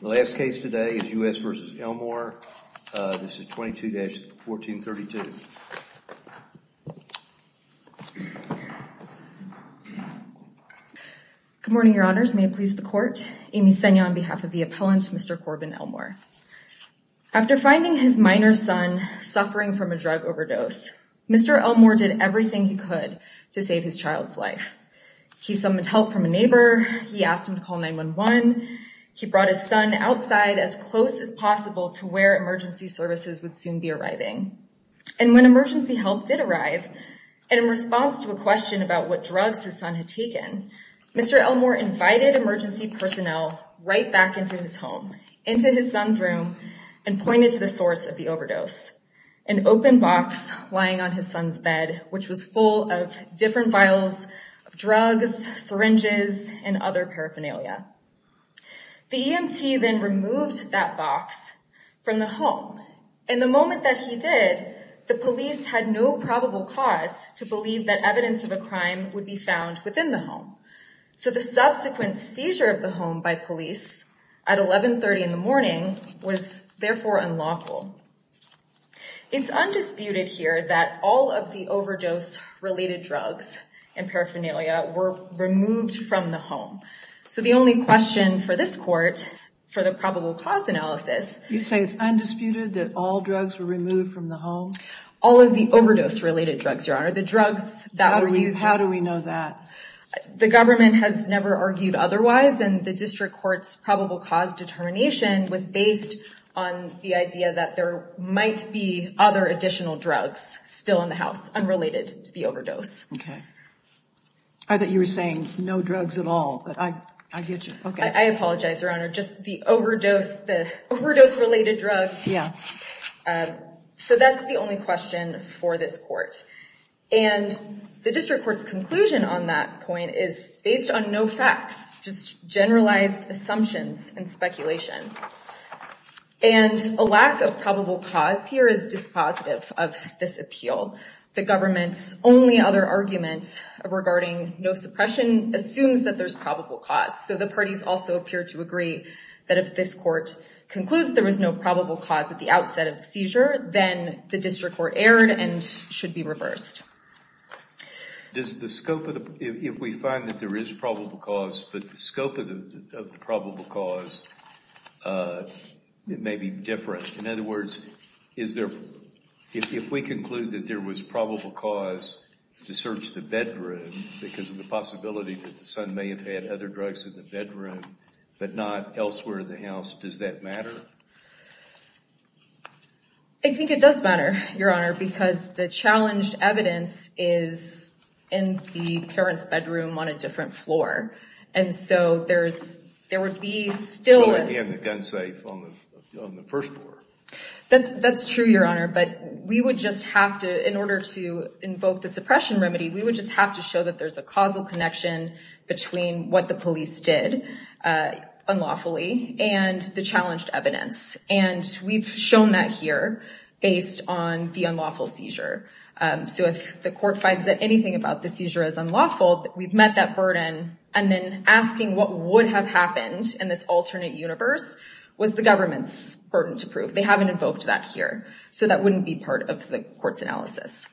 The last case today is U.S. v. Elmore. This is 22-1432. Good morning, your honors. May it please the court. Amy Seno on behalf of the appellant, Mr. Corbin Elmore. After finding his minor son suffering from a drug overdose, Mr. Elmore did everything he could to save his child's life. He summoned help from a neighbor. He asked him to call 911. He brought his son outside as close as possible to where emergency services would soon be arriving. And when emergency help did arrive, and in response to a question about what drugs his son had taken, Mr. Elmore invited emergency personnel right back into his home, into his son's room, and pointed to the source of the overdose, an open box lying on his son's bed, which was full of different vials of drugs, syringes, and other paraphernalia. The EMT then removed that box from the home. In the moment that he did, the police had no probable cause to believe that evidence of a crime would be found within the home. So the subsequent seizure of the home by police at 1130 in the morning was therefore unlawful. It's undisputed here that all of the overdose-related drugs and paraphernalia were removed from the home. So the only question for this court for the probable cause analysis... You say it's undisputed that all drugs were removed from the home? All of the overdose-related drugs, your honor. The drugs that were used... How do we know that? The government has never argued otherwise, and the district court's probable cause determination was based on the idea that there might be other additional drugs still in the house unrelated to the overdose. Okay. I thought you were saying no drugs at all, but I get you. I apologize, your honor. Just the overdose-related drugs. Yeah. So that's the only question for this court. And the district court's conclusion on that point is based on no facts, just generalized assumptions and speculation. And a lack of probable cause here is dispositive of this appeal. The government's only other argument regarding no suppression assumes that there's probable cause. So the parties also appear to agree that if this court concludes there was no probable cause at the outset of the seizure, then the district court erred and should be reversed. If we find that there is probable cause, but the scope of the probable cause may be different. In other words, if we conclude that there was probable cause to search the bedroom because of the possibility that the son may have had other drugs in the bedroom, but not elsewhere in the house, does that matter? I think it does matter, your honor, because the challenged evidence is in the parent's bedroom on a different floor. And so there would be still... That's true, your honor. But we would just have to, in order to invoke the suppression remedy, we would just have to show that there's a causal connection between what the police did unlawfully and the challenged evidence. And we've shown that here based on the unlawful seizure. So if the court finds that anything about the seizure is unlawful, we've met that burden. And then asking what would have happened in this alternate universe was the government's burden to prove. They haven't invoked that here. So that wouldn't be part of the court's analysis.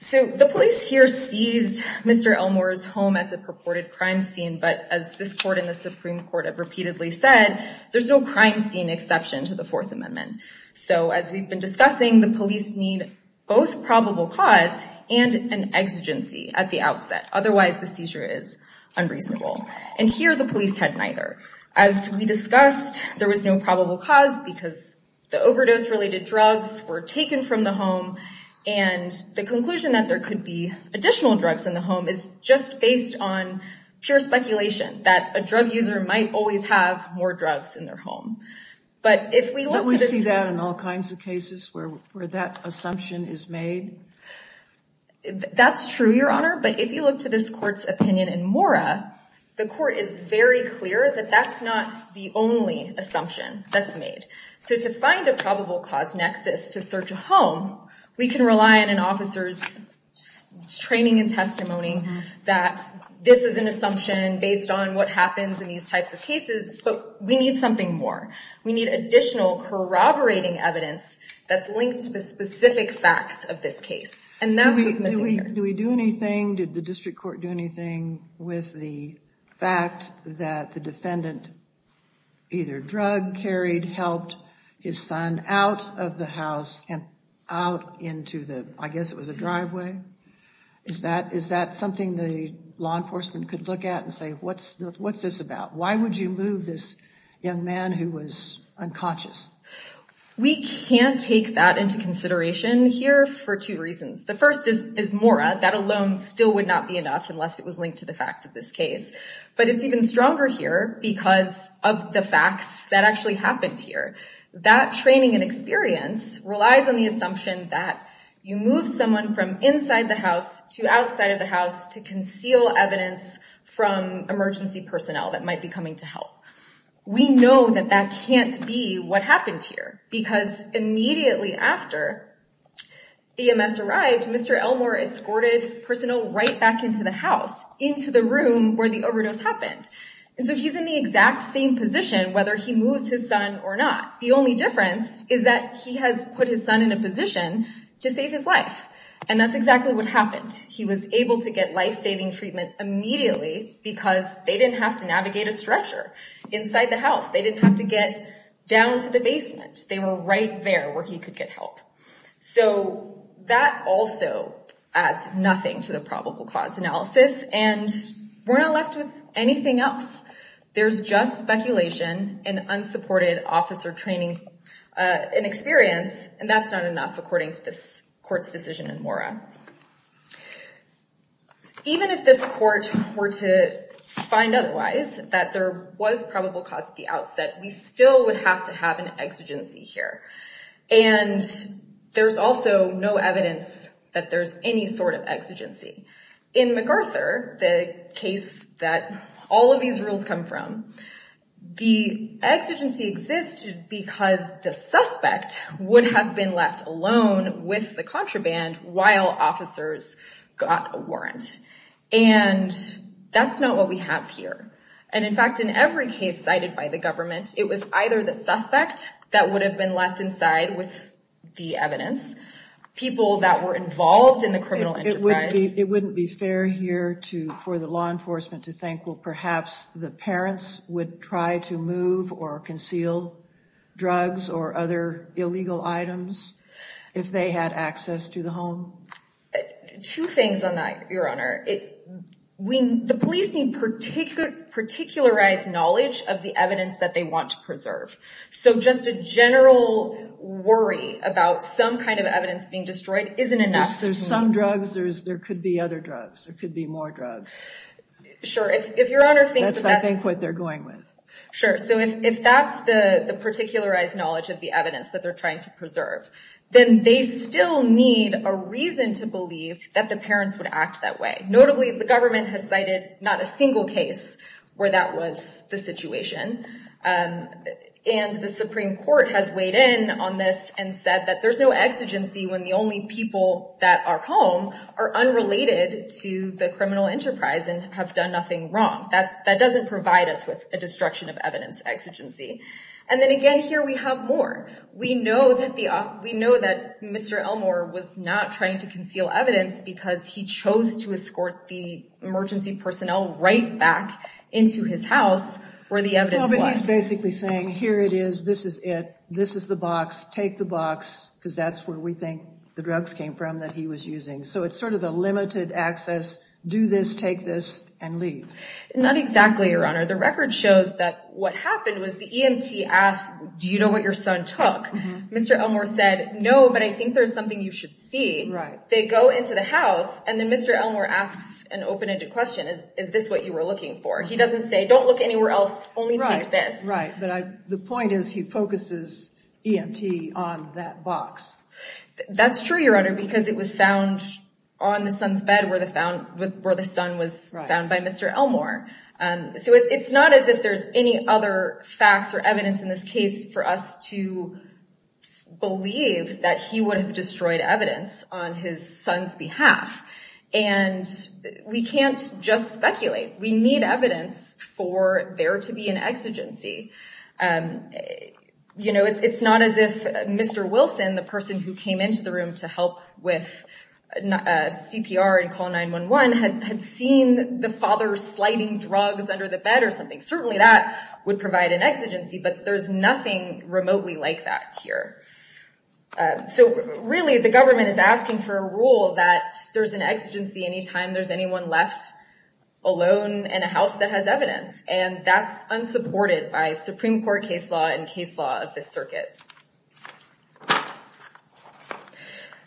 So the police here seized Mr. Elmore's home as a purported crime scene. But as this court in the Supreme Court have repeatedly said, there's no crime scene exception to the Fourth Amendment. So as we've been discussing, the police need both probable cause and an exigency at the outset. Otherwise, the seizure is unreasonable. And here the police had neither. As we discussed, there was no probable cause because the overdose-related drugs were taken from the home. And the conclusion that there could be additional drugs in the home is just based on pure speculation that a drug user might always have more drugs in their home. But we see that in all kinds of cases where that assumption is made. That's true, Your Honor. But if you look to this court's opinion in Mora, the court is very clear that that's not the only assumption that's made. So to find a probable cause nexus to search a home, we can rely on an officer's training and testimony that this is an assumption based on what happens in these types of cases. But we need something more. We need additional corroborating evidence that's linked to the specific facts of this case. And that's what's missing here. Do we do anything? Did the district court do anything with the fact that the defendant either drug-carried, helped his son out of the house and out into the, I guess it was a driveway? Is that something the law enforcement could look at and say, what's this about? Why would you move this young man who was unconscious? We can't take that into consideration here for two reasons. The first is Mora. That alone still would not be enough unless it was linked to the facts of this case. But it's even stronger here because of the facts that actually happened here. That training and experience relies on the assumption that you move someone from inside the house to outside of the house to conceal evidence from emergency personnel that might be coming to help. We know that that can't be what happened here. Because immediately after EMS arrived, Mr. Elmore escorted personnel right back into the house, into the room where the overdose happened. And so he's in the exact same position, whether he moves his son or not. The only difference is that he has put his son in a position to save his life. And that's exactly what happened. He was able to get life-saving treatment immediately because they didn't have to navigate a stretcher inside the house. They didn't have to get down to the basement. They were right there where he could get help. So that also adds nothing to the probable cause analysis. And we're not left with anything else. There's just speculation and unsupported officer training and experience. And that's not enough, according to this court's decision in Mora. Even if this court were to find otherwise, that there was probable cause at the outset, we still would have to have an exigency here. And there's also no evidence that there's any sort of exigency. In MacArthur, the case that all of these rules come from, the exigency exists because the suspect would have been left alone with the contraband while officers got a warrant. And that's not what we have here. And in fact, in every case cited by the government, it was either the suspect that would have been left inside with the evidence, people that were involved in the criminal enterprise. It wouldn't be fair here for the law enforcement to think, well, perhaps the parents would try to move or conceal drugs or other illegal items if they had access to the home? Two things on that, Your Honor. The police need particularized knowledge of the evidence that they want to preserve. So just a general worry about some kind of evidence being destroyed isn't enough. There's some drugs. There could be other drugs. There could be more drugs. Sure. If Your Honor thinks that's what they're going with. Sure. So if that's the particularized knowledge of the evidence that they're trying to preserve, then they still need a reason to believe that the parents would act that way. Notably, the government has cited not a single case where that was the situation. And the Supreme Court has weighed in on this and said that there's no exigency when the only people that are home are unrelated to the criminal enterprise and have done nothing wrong. That doesn't provide us with a destruction of evidence exigency. And then again, here we have more. We know that Mr. Elmore was not trying to conceal evidence because he chose to escort the emergency personnel right back into his house where the evidence was. No, but he's basically saying, here it is. This is it. This is the box. Take the box because that's where we think the drugs came from that he was using. So it's sort of a limited access. Do this, take this, and leave. Not exactly, Your Honor. The record shows that what happened was the EMT asked, do you know what your son took? Mr. Elmore said, no, but I think there's something you should see. Right. They go into the house, and then Mr. Elmore asks an open-ended question. Is this what you were looking for? He doesn't say, don't look anywhere else, only take this. Right, but the point is he focuses EMT on that box. That's true, Your Honor, because it was found on the son's bed where the son was found by Mr. Elmore. So it's not as if there's any other facts or evidence in this case for us to believe that he would have destroyed evidence on his son's behalf. And we can't just speculate. We need evidence for there to be an exigency. You know, it's not as if Mr. Wilson, the person who came into the room to help with CPR and call 911, had seen the father sliding drugs under the bed or something. Certainly that would provide an exigency, but there's nothing remotely like that here. So really, the government is asking for a rule that there's an exigency any time there's anyone left alone in a house that has evidence. And that's unsupported by Supreme Court case law and case law of this circuit.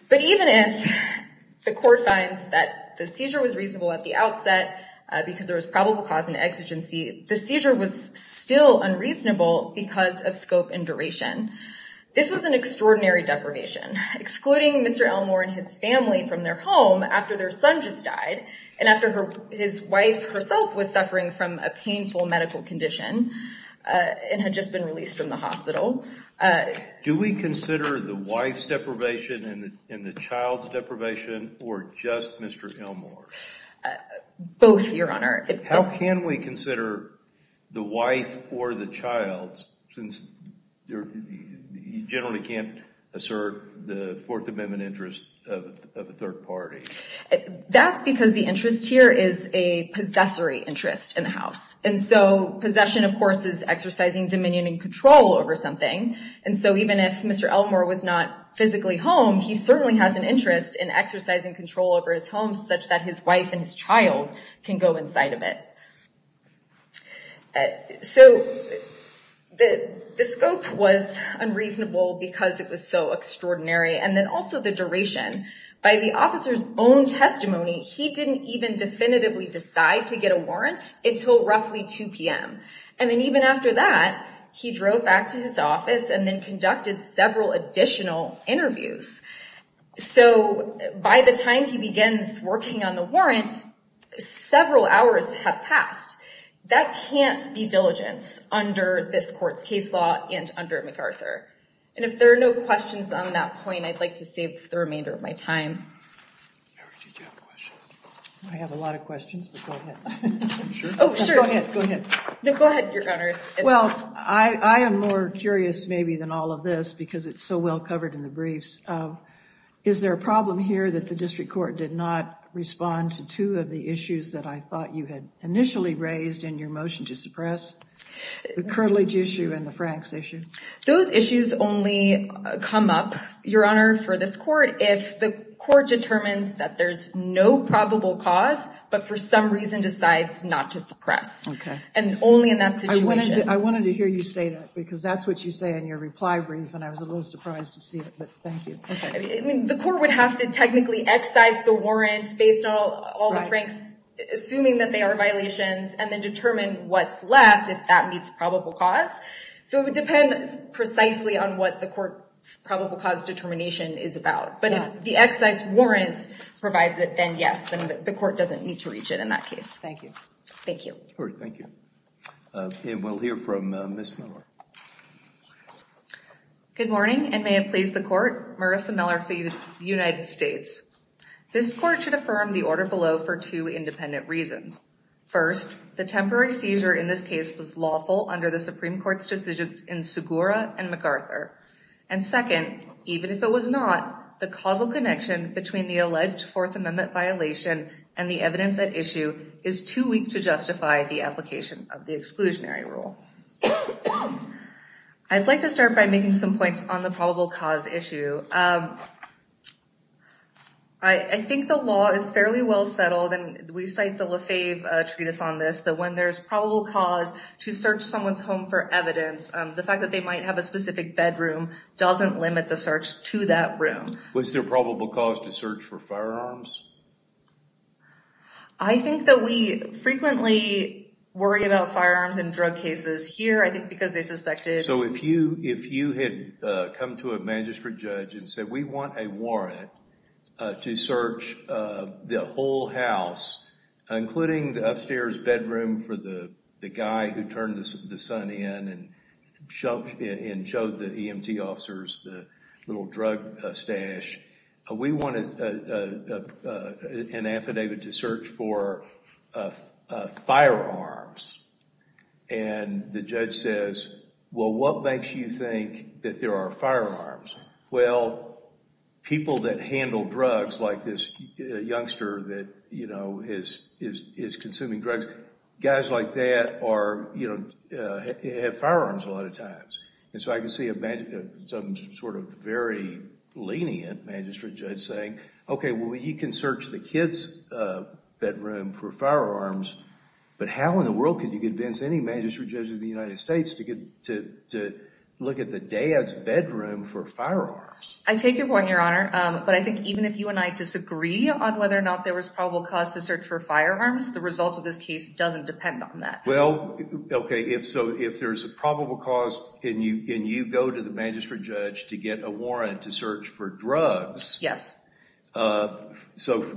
But even if the court finds that the seizure was reasonable at the outset because there was probable cause and exigency, the seizure was still unreasonable because of scope and duration. This was an extraordinary deprivation, excluding Mr. Elmore and his family from their home after their son just died and after his wife herself was suffering from a painful medical condition and had just been released from the hospital. Do we consider the wife's deprivation and the child's deprivation or just Mr. Elmore? Both, Your Honor. How can we consider the wife or the child, since you generally can't assert the Fourth Amendment interest of a third party? That's because the interest here is a possessory interest in the house. And so possession, of course, is exercising dominion and control over something. And so even if Mr. Elmore was not physically home, he certainly has an interest in exercising control over his home such that his wife and his child can go inside of it. So the scope was unreasonable because it was so extraordinary. And then also the duration. By the officer's own testimony, he didn't even definitively decide to get a warrant until roughly 2 p.m. And then even after that, he drove back to his office and then conducted several additional interviews. So by the time he begins working on the warrant, several hours have passed. That can't be diligence under this court's case law and under MacArthur. And if there are no questions on that point, I'd like to save the remainder of my time. I have a lot of questions. Oh, sure. Go ahead. No, go ahead, Your Honor. Well, I am more curious maybe than all of this because it's so well covered in the briefs. Is there a problem here that the district court did not respond to two of the issues that I thought you had initially raised in your motion to suppress? The curtilage issue and the Franks issue. Those issues only come up, Your Honor, for this court if the court determines that there's no probable cause but for some reason decides not to suppress. Okay. And only in that situation. I wanted to hear you say that because that's what you say in your reply brief, and I was a little surprised to see it, but thank you. The court would have to technically excise the warrant based on all the Franks, assuming that they are violations, and then determine what's left if that meets probable cause. So it would depend precisely on what the court's probable cause determination is about. But if the excise warrant provides it, then yes, the court doesn't need to reach it in that case. Thank you. Thank you. All right. Thank you. And we'll hear from Ms. Miller. Good morning, and may it please the court, Marissa Miller for the United States. This court should affirm the order below for two independent reasons. First, the temporary seizure in this case was lawful under the Supreme Court's decisions in Segura and McArthur. And second, even if it was not, the causal connection between the alleged Fourth Amendment violation and the evidence at issue is too weak to justify the application of the exclusionary rule. I'd like to start by making some points on the probable cause issue. I think the law is fairly well settled, and we cite the Lefebvre Treatise on this, that when there's probable cause to search someone's home for evidence, the fact that they might have a specific bedroom doesn't limit the search to that room. Was there probable cause to search for firearms? I think that we frequently worry about firearms in drug cases here, I think because they suspected. So if you had come to a magistrate judge and said, we want a warrant to search the whole house, including the upstairs bedroom for the guy who turned the sun in and showed the EMT officers the little drug stash, we want an affidavit to search for firearms. And the judge says, well, what makes you think that there are firearms? Well, people that handle drugs, like this youngster that is consuming drugs, guys like that have firearms a lot of times. And so I can see some sort of very lenient magistrate judge saying, OK, well, you can search the kid's bedroom for firearms, but how in the world can you convince any magistrate judge in the United States to look at the dad's bedroom for firearms? I take your point, Your Honor. But I think even if you and I disagree on whether or not there was probable cause to search for firearms, the result of this case doesn't depend on that. Well, OK, so if there's a probable cause and you go to the magistrate judge to get a warrant to search for drugs. Yes. So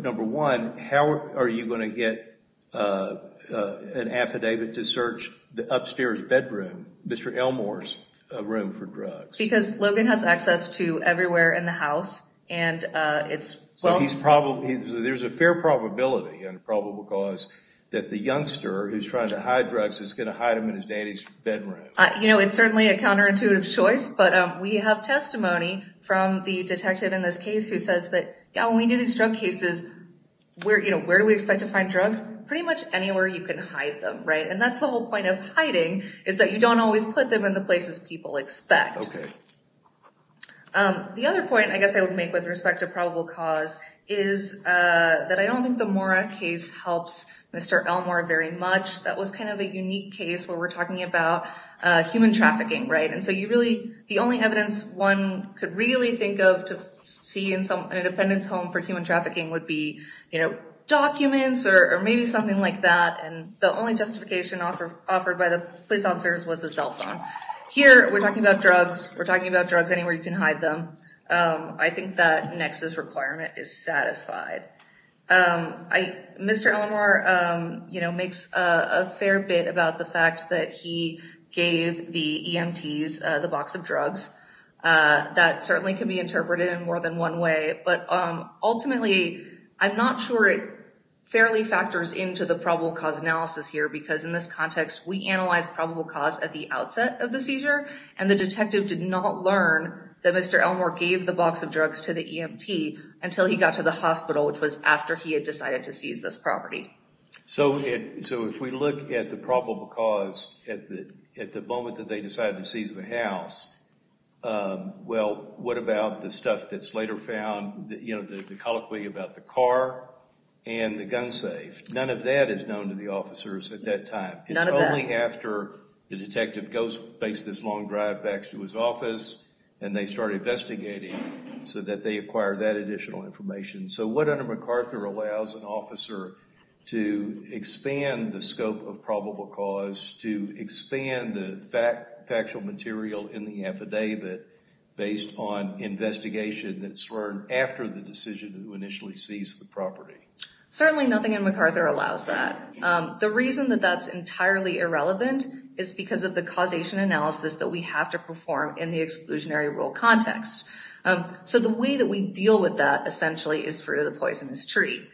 number one, how are you going to get an affidavit to search the upstairs bedroom, Mr. Elmore's room for drugs? Because Logan has access to everywhere in the house. So there's a fair probability and probable cause that the youngster who's trying to hide drugs is going to hide them in his daddy's bedroom. You know, it's certainly a counterintuitive choice, but we have testimony from the detective in this case who says that when we do these drug cases, where do we expect to find drugs? Pretty much anywhere you can hide them, right? And that's the whole point of hiding, is that you don't always put them in the places people expect. OK. The other point I guess I would make with respect to probable cause is that I don't think the Mora case helps Mr. Elmore very much. That was kind of a unique case where we're talking about human trafficking. Right. And so you really the only evidence one could really think of to see in some independence home for human trafficking would be, you know, documents or maybe something like that. And the only justification offered by the police officers was a cell phone. Here we're talking about drugs. We're talking about drugs anywhere you can hide them. I think that Nexus requirement is satisfied. Mr. Elmore, you know, makes a fair bit about the fact that he gave the EMTs the box of drugs. That certainly can be interpreted in more than one way. But ultimately, I'm not sure it fairly factors into the probable cause analysis here, because in this context, we analyzed probable cause at the outset of the seizure. And the detective did not learn that Mr. Elmore gave the box of drugs to the EMT until he got to the hospital, which was after he had decided to seize this property. So if we look at the probable cause at the moment that they decided to seize the house, well, what about the stuff that's later found, you know, the colloquy about the car and the gun safe? None of that is known to the officers at that time. None of that. It's only after the detective goes, makes this long drive back to his office, and they start investigating so that they acquire that additional information. So what under MacArthur allows an officer to expand the scope of probable cause, to expand the factual material in the affidavit based on investigation that's learned after the decision who initially seized the property? Certainly nothing in MacArthur allows that. The reason that that's entirely irrelevant is because of the causation analysis that we have to perform in the exclusionary rule context. So the way that we deal with that essentially is fruit of the poisonous tree.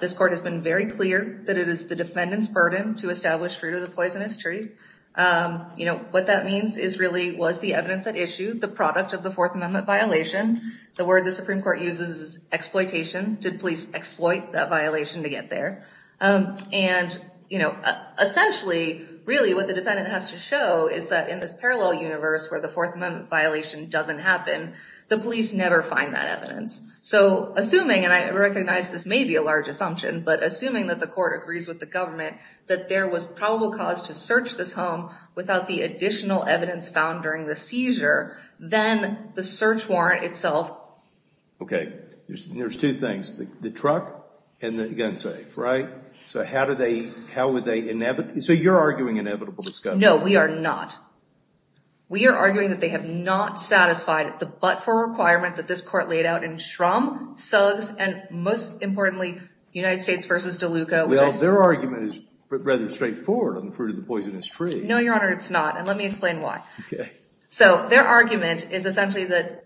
This court has been very clear that it is the defendant's burden to establish fruit of the poisonous tree. You know, what that means is really was the evidence at issue the product of the Fourth Amendment violation? The word the Supreme Court uses is exploitation. Did police exploit that violation to get there? And, you know, essentially, really what the defendant has to show is that in this parallel universe where the Fourth Amendment violation doesn't happen, the police never find that evidence. So assuming, and I recognize this may be a large assumption, but assuming that the court agrees with the government that there was probable cause to search this home without the additional evidence found during the seizure, then the search warrant itself. Okay, there's two things, the truck and the gun safe, right? So how do they, how would they, so you're arguing inevitable discussion. No, we are not. We are arguing that they have not satisfied the but-for requirement that this court laid out in Shrum, Suggs, and most importantly, United States v. DeLuca. Well, their argument is rather straightforward on the fruit of the poisonous tree. No, Your Honor, it's not, and let me explain why. Okay. So their argument is essentially that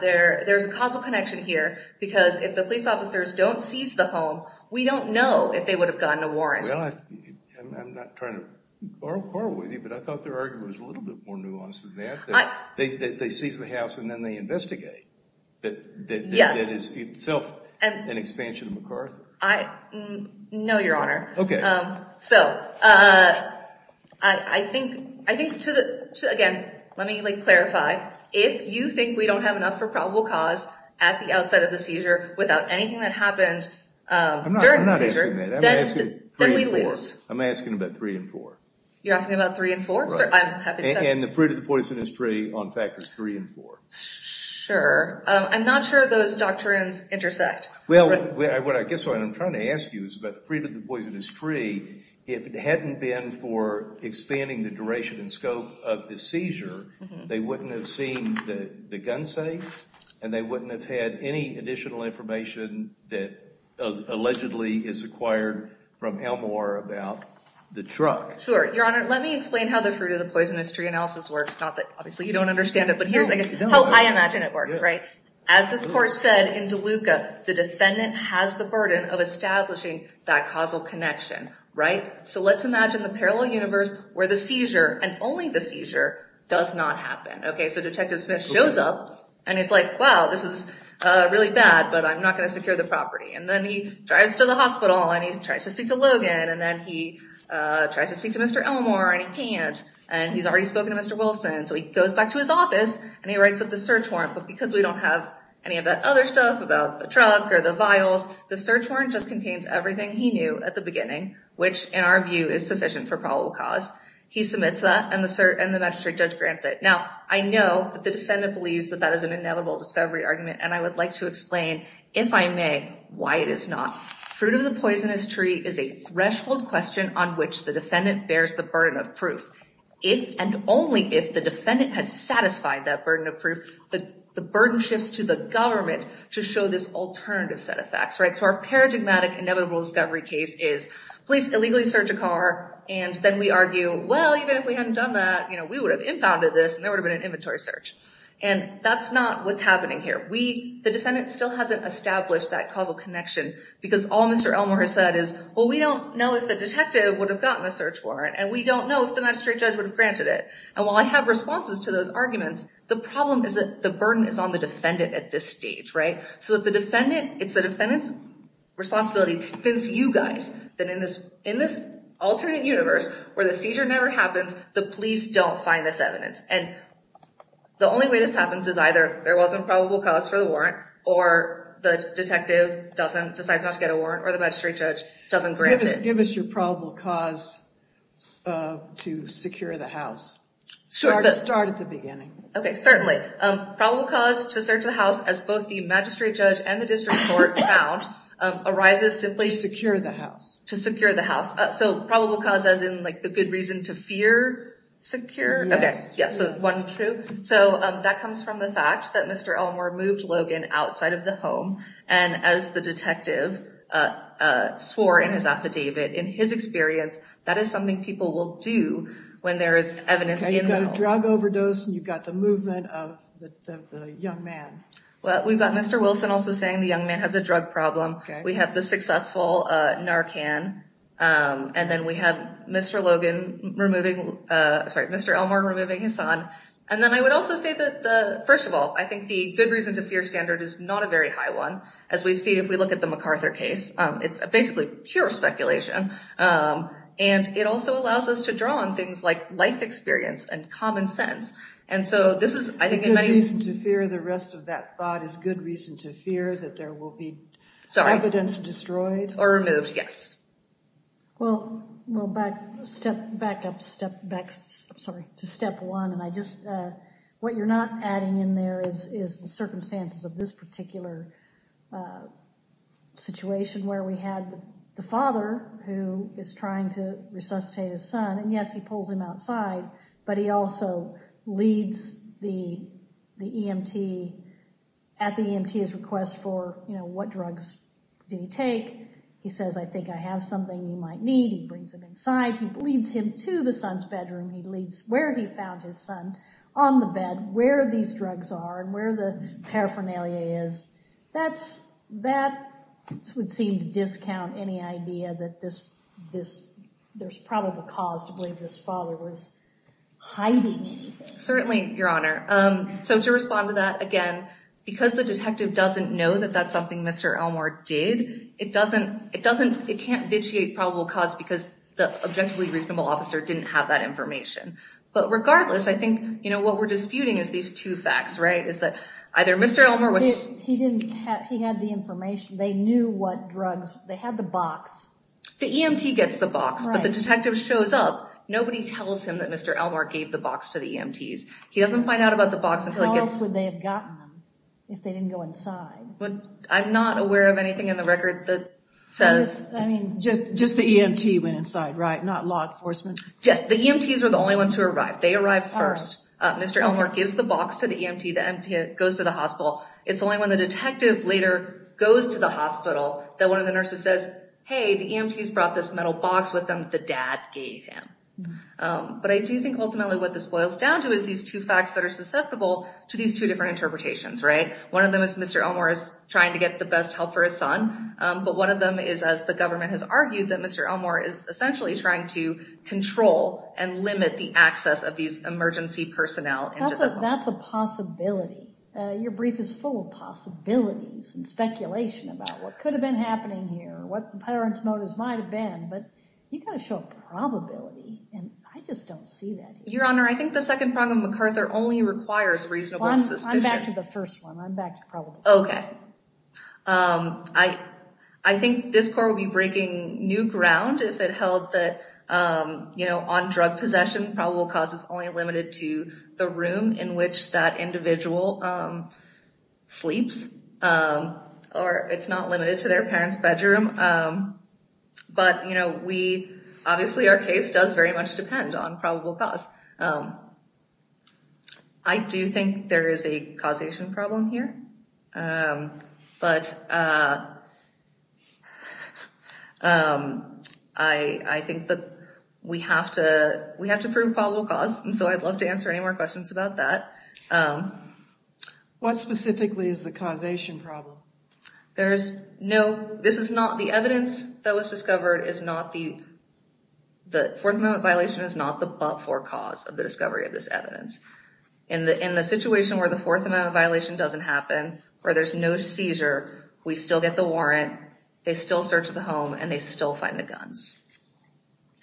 there's a causal connection here because if the police officers don't seize the home, we don't know if they would have gotten a warrant. Well, I'm not trying to borrow a quarrel with you, but I thought their argument was a little bit more nuanced than that. They seize the house and then they investigate. Yes. That is itself an expansion of MacArthur. No, Your Honor. Okay. So I think, again, let me clarify. If you think we don't have enough for probable cause at the outset of the seizure without anything that happened during the seizure, then we lose. I'm not asking that. I'm asking about three and four. You're asking about three and four? Right. And the fruit of the poisonous tree on factors three and four. Sure. I'm not sure those doctrines intersect. Well, what I guess what I'm trying to ask you is about the fruit of the poisonous tree. If it hadn't been for expanding the duration and scope of the seizure, they wouldn't have seen the gun safe and they wouldn't have had any additional information that allegedly is acquired from Elmore about the truck. Sure. Your Honor, let me explain how the fruit of the poisonous tree analysis works. Obviously, you don't understand it, but here's how I imagine it works. As this court said in DeLuca, the defendant has the burden of establishing that causal connection. Right? So let's imagine the parallel universe where the seizure and only the seizure does not happen. Okay. So Detective Smith shows up and he's like, wow, this is really bad, but I'm not going to secure the property. And then he drives to the hospital and he tries to speak to Logan and then he tries to speak to Mr. Elmore and he can't and he's already spoken to Mr. Wilson. So he goes back to his office and he writes up the search warrant, but because we don't have any of that other stuff about the truck or the vials, the search warrant just contains everything he knew at the beginning, which in our view is sufficient for probable cause. He submits that and the magistrate judge grants it. Now, I know that the defendant believes that that is an inevitable discovery argument, and I would like to explain, if I may, why it is not. Fruit of the poisonous tree is a threshold question on which the defendant bears the burden of proof. If and only if the defendant has satisfied that burden of proof, the burden shifts to the government to show this alternative set of facts. Right. So our paradigmatic inevitable discovery case is police illegally search a car. And then we argue, well, even if we hadn't done that, you know, we would have impounded this and there would have been an inventory search. And that's not what's happening here. The defendant still hasn't established that causal connection because all Mr. Elmore has said is, well, we don't know if the detective would have gotten a search warrant and we don't know if the magistrate judge would have granted it. And while I have responses to those arguments, the problem is that the burden is on the defendant at this stage. Right. So if the defendant, it's the defendant's responsibility to convince you guys that in this alternate universe where the seizure never happens, the police don't find this evidence. And the only way this happens is either there wasn't probable cause for the warrant or the detective decides not to get a warrant or the magistrate judge doesn't grant it. Give us your probable cause to secure the house. Start at the beginning. OK, certainly. Probable cause to search the house, as both the magistrate judge and the district court found, arises simply to secure the house. So probable cause as in like the good reason to fear secure. OK, yes. So one, two. So that comes from the fact that Mr. Elmore moved Logan outside of the home. And as the detective swore in his affidavit, in his experience, that is something people will do when there is evidence in the home. You've got a drug overdose and you've got the movement of the young man. Well, we've got Mr. Wilson also saying the young man has a drug problem. We have the successful Narcan. And then we have Mr. Logan removing, sorry, Mr. Elmore removing his son. And then I would also say that, first of all, I think the good reason to fear standard is not a very high one. As we see, if we look at the MacArthur case, it's basically pure speculation. And it also allows us to draw on things like life experience and common sense. And so this is, I think, a good reason to fear the rest of that thought is good reason to fear that there will be evidence destroyed or removed. Yes. Well, step back up, step back, sorry, to step one. And I just what you're not adding in there is the circumstances of this particular situation where we had the father who is trying to resuscitate his son. And yes, he pulls him outside, but he also leads the EMT at the EMT's request for, you know, what drugs do you take? He says, I think I have something you might need. He brings him inside. He leads him to the son's bedroom. He leads where he found his son on the bed, where these drugs are and where the paraphernalia is. That would seem to discount any idea that there's probable cause to believe this father was hiding anything. Certainly, Your Honor. So to respond to that, again, because the detective doesn't know that that's something Mr. Elmore did, it can't vitiate probable cause because the objectively reasonable officer didn't have that information. But regardless, I think, you know, what we're disputing is these two facts, right? He had the information. They knew what drugs. They had the box. The EMT gets the box, but the detective shows up. Nobody tells him that Mr. Elmore gave the box to the EMTs. He doesn't find out about the box until he gets... How else would they have gotten them if they didn't go inside? I'm not aware of anything in the record that says... I mean, just the EMT went inside, right? Not law enforcement? Yes, the EMTs were the only ones who arrived. They arrived first. Mr. Elmore gives the box to the EMT. The EMT goes to the hospital. It's only when the detective later goes to the hospital that one of the nurses says, hey, the EMTs brought this metal box with them that the dad gave him. But I do think ultimately what this boils down to is these two facts that are susceptible to these two different interpretations, right? One of them is Mr. Elmore is trying to get the best help for his son. But one of them is, as the government has argued, that Mr. Elmore is essentially trying to control and limit the access of these emergency personnel. That's a possibility. Your brief is full of possibilities and speculation about what could have been happening here, what the parents' motives might have been. But you've got to show probability, and I just don't see that. Your Honor, I think the second prong of MacArthur only requires reasonable suspicion. I'm back to the first one. I'm back to probability. Okay. I think this court will be breaking new ground if it held that on drug possession, probable cause is only limited to the room in which that individual sleeps, or it's not limited to their parents' bedroom. But obviously our case does very much depend on probable cause. I do think there is a causation problem here. But I think that we have to prove probable cause, and so I'd love to answer any more questions about that. What specifically is the causation problem? This is not the evidence that was discovered. The Fourth Amendment violation is not the but-for cause of the discovery of this evidence. In the situation where the Fourth Amendment violation doesn't happen, where there's no seizure, we still get the warrant, they still search the home, and they still find the guns.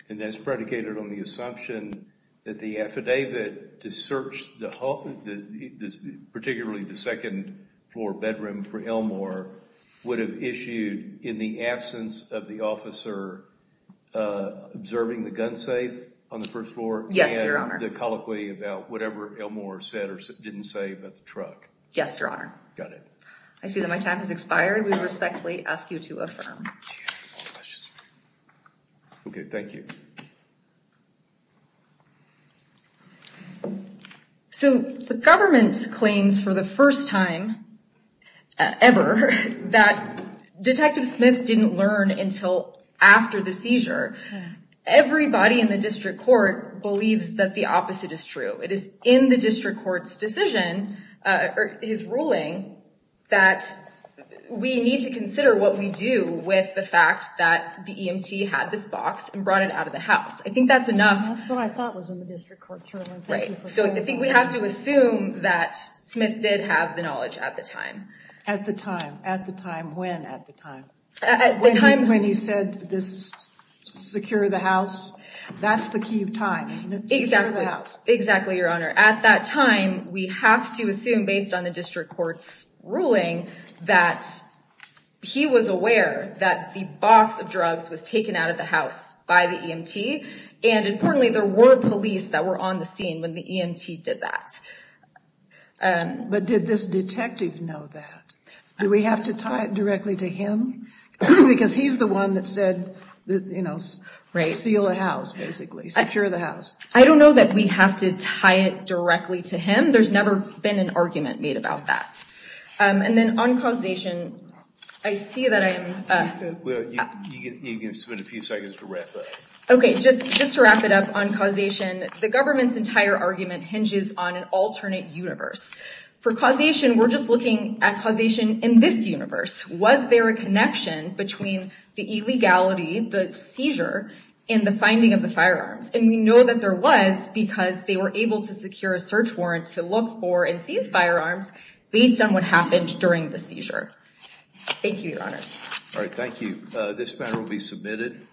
And that's predicated on the assumption that the affidavit to search the home, particularly the second-floor bedroom for Elmore, would have issued in the absence of the officer observing the gun safe on the first floor, and the colloquy about whatever Elmore said or didn't say about the truck. Yes, Your Honor. Got it. I see that my time has expired. We respectfully ask you to affirm. Okay, thank you. So the government claims for the first time ever that Detective Smith didn't learn until after the seizure. Everybody in the district court believes that the opposite is true. It is in the district court's decision, his ruling, that we need to consider what we do with the fact that the EMT had this box and brought it out of the house. I think that's enough. That's what I thought was in the district court's ruling. Right. So I think we have to assume that Smith did have the knowledge at the time. At the time. At the time. When at the time? At the time. When he said, secure the house? That's the key of time, isn't it? Exactly. Exactly, Your Honor. At that time, we have to assume, based on the district court's ruling, that he was aware that the box of drugs was taken out of the house by the EMT. And importantly, there were police that were on the scene when the EMT did that. But did this detective know that? Do we have to tie it directly to him? Because he's the one that said, you know, steal a house, basically. Secure the house. I don't know that we have to tie it directly to him. There's never been an argument made about that. And then on causation, I see that I am... You can spend a few seconds to wrap up. Okay. Just to wrap it up on causation. The government's entire argument hinges on an alternate universe. For causation, we're just looking at causation in this universe. Was there a connection between the illegality, the seizure, and the finding of the firearms? And we know that there was because they were able to secure a search warrant to look for and seize firearms based on what happened during the seizure. Thank you, Your Honors. All right, thank you. This matter will be submitted.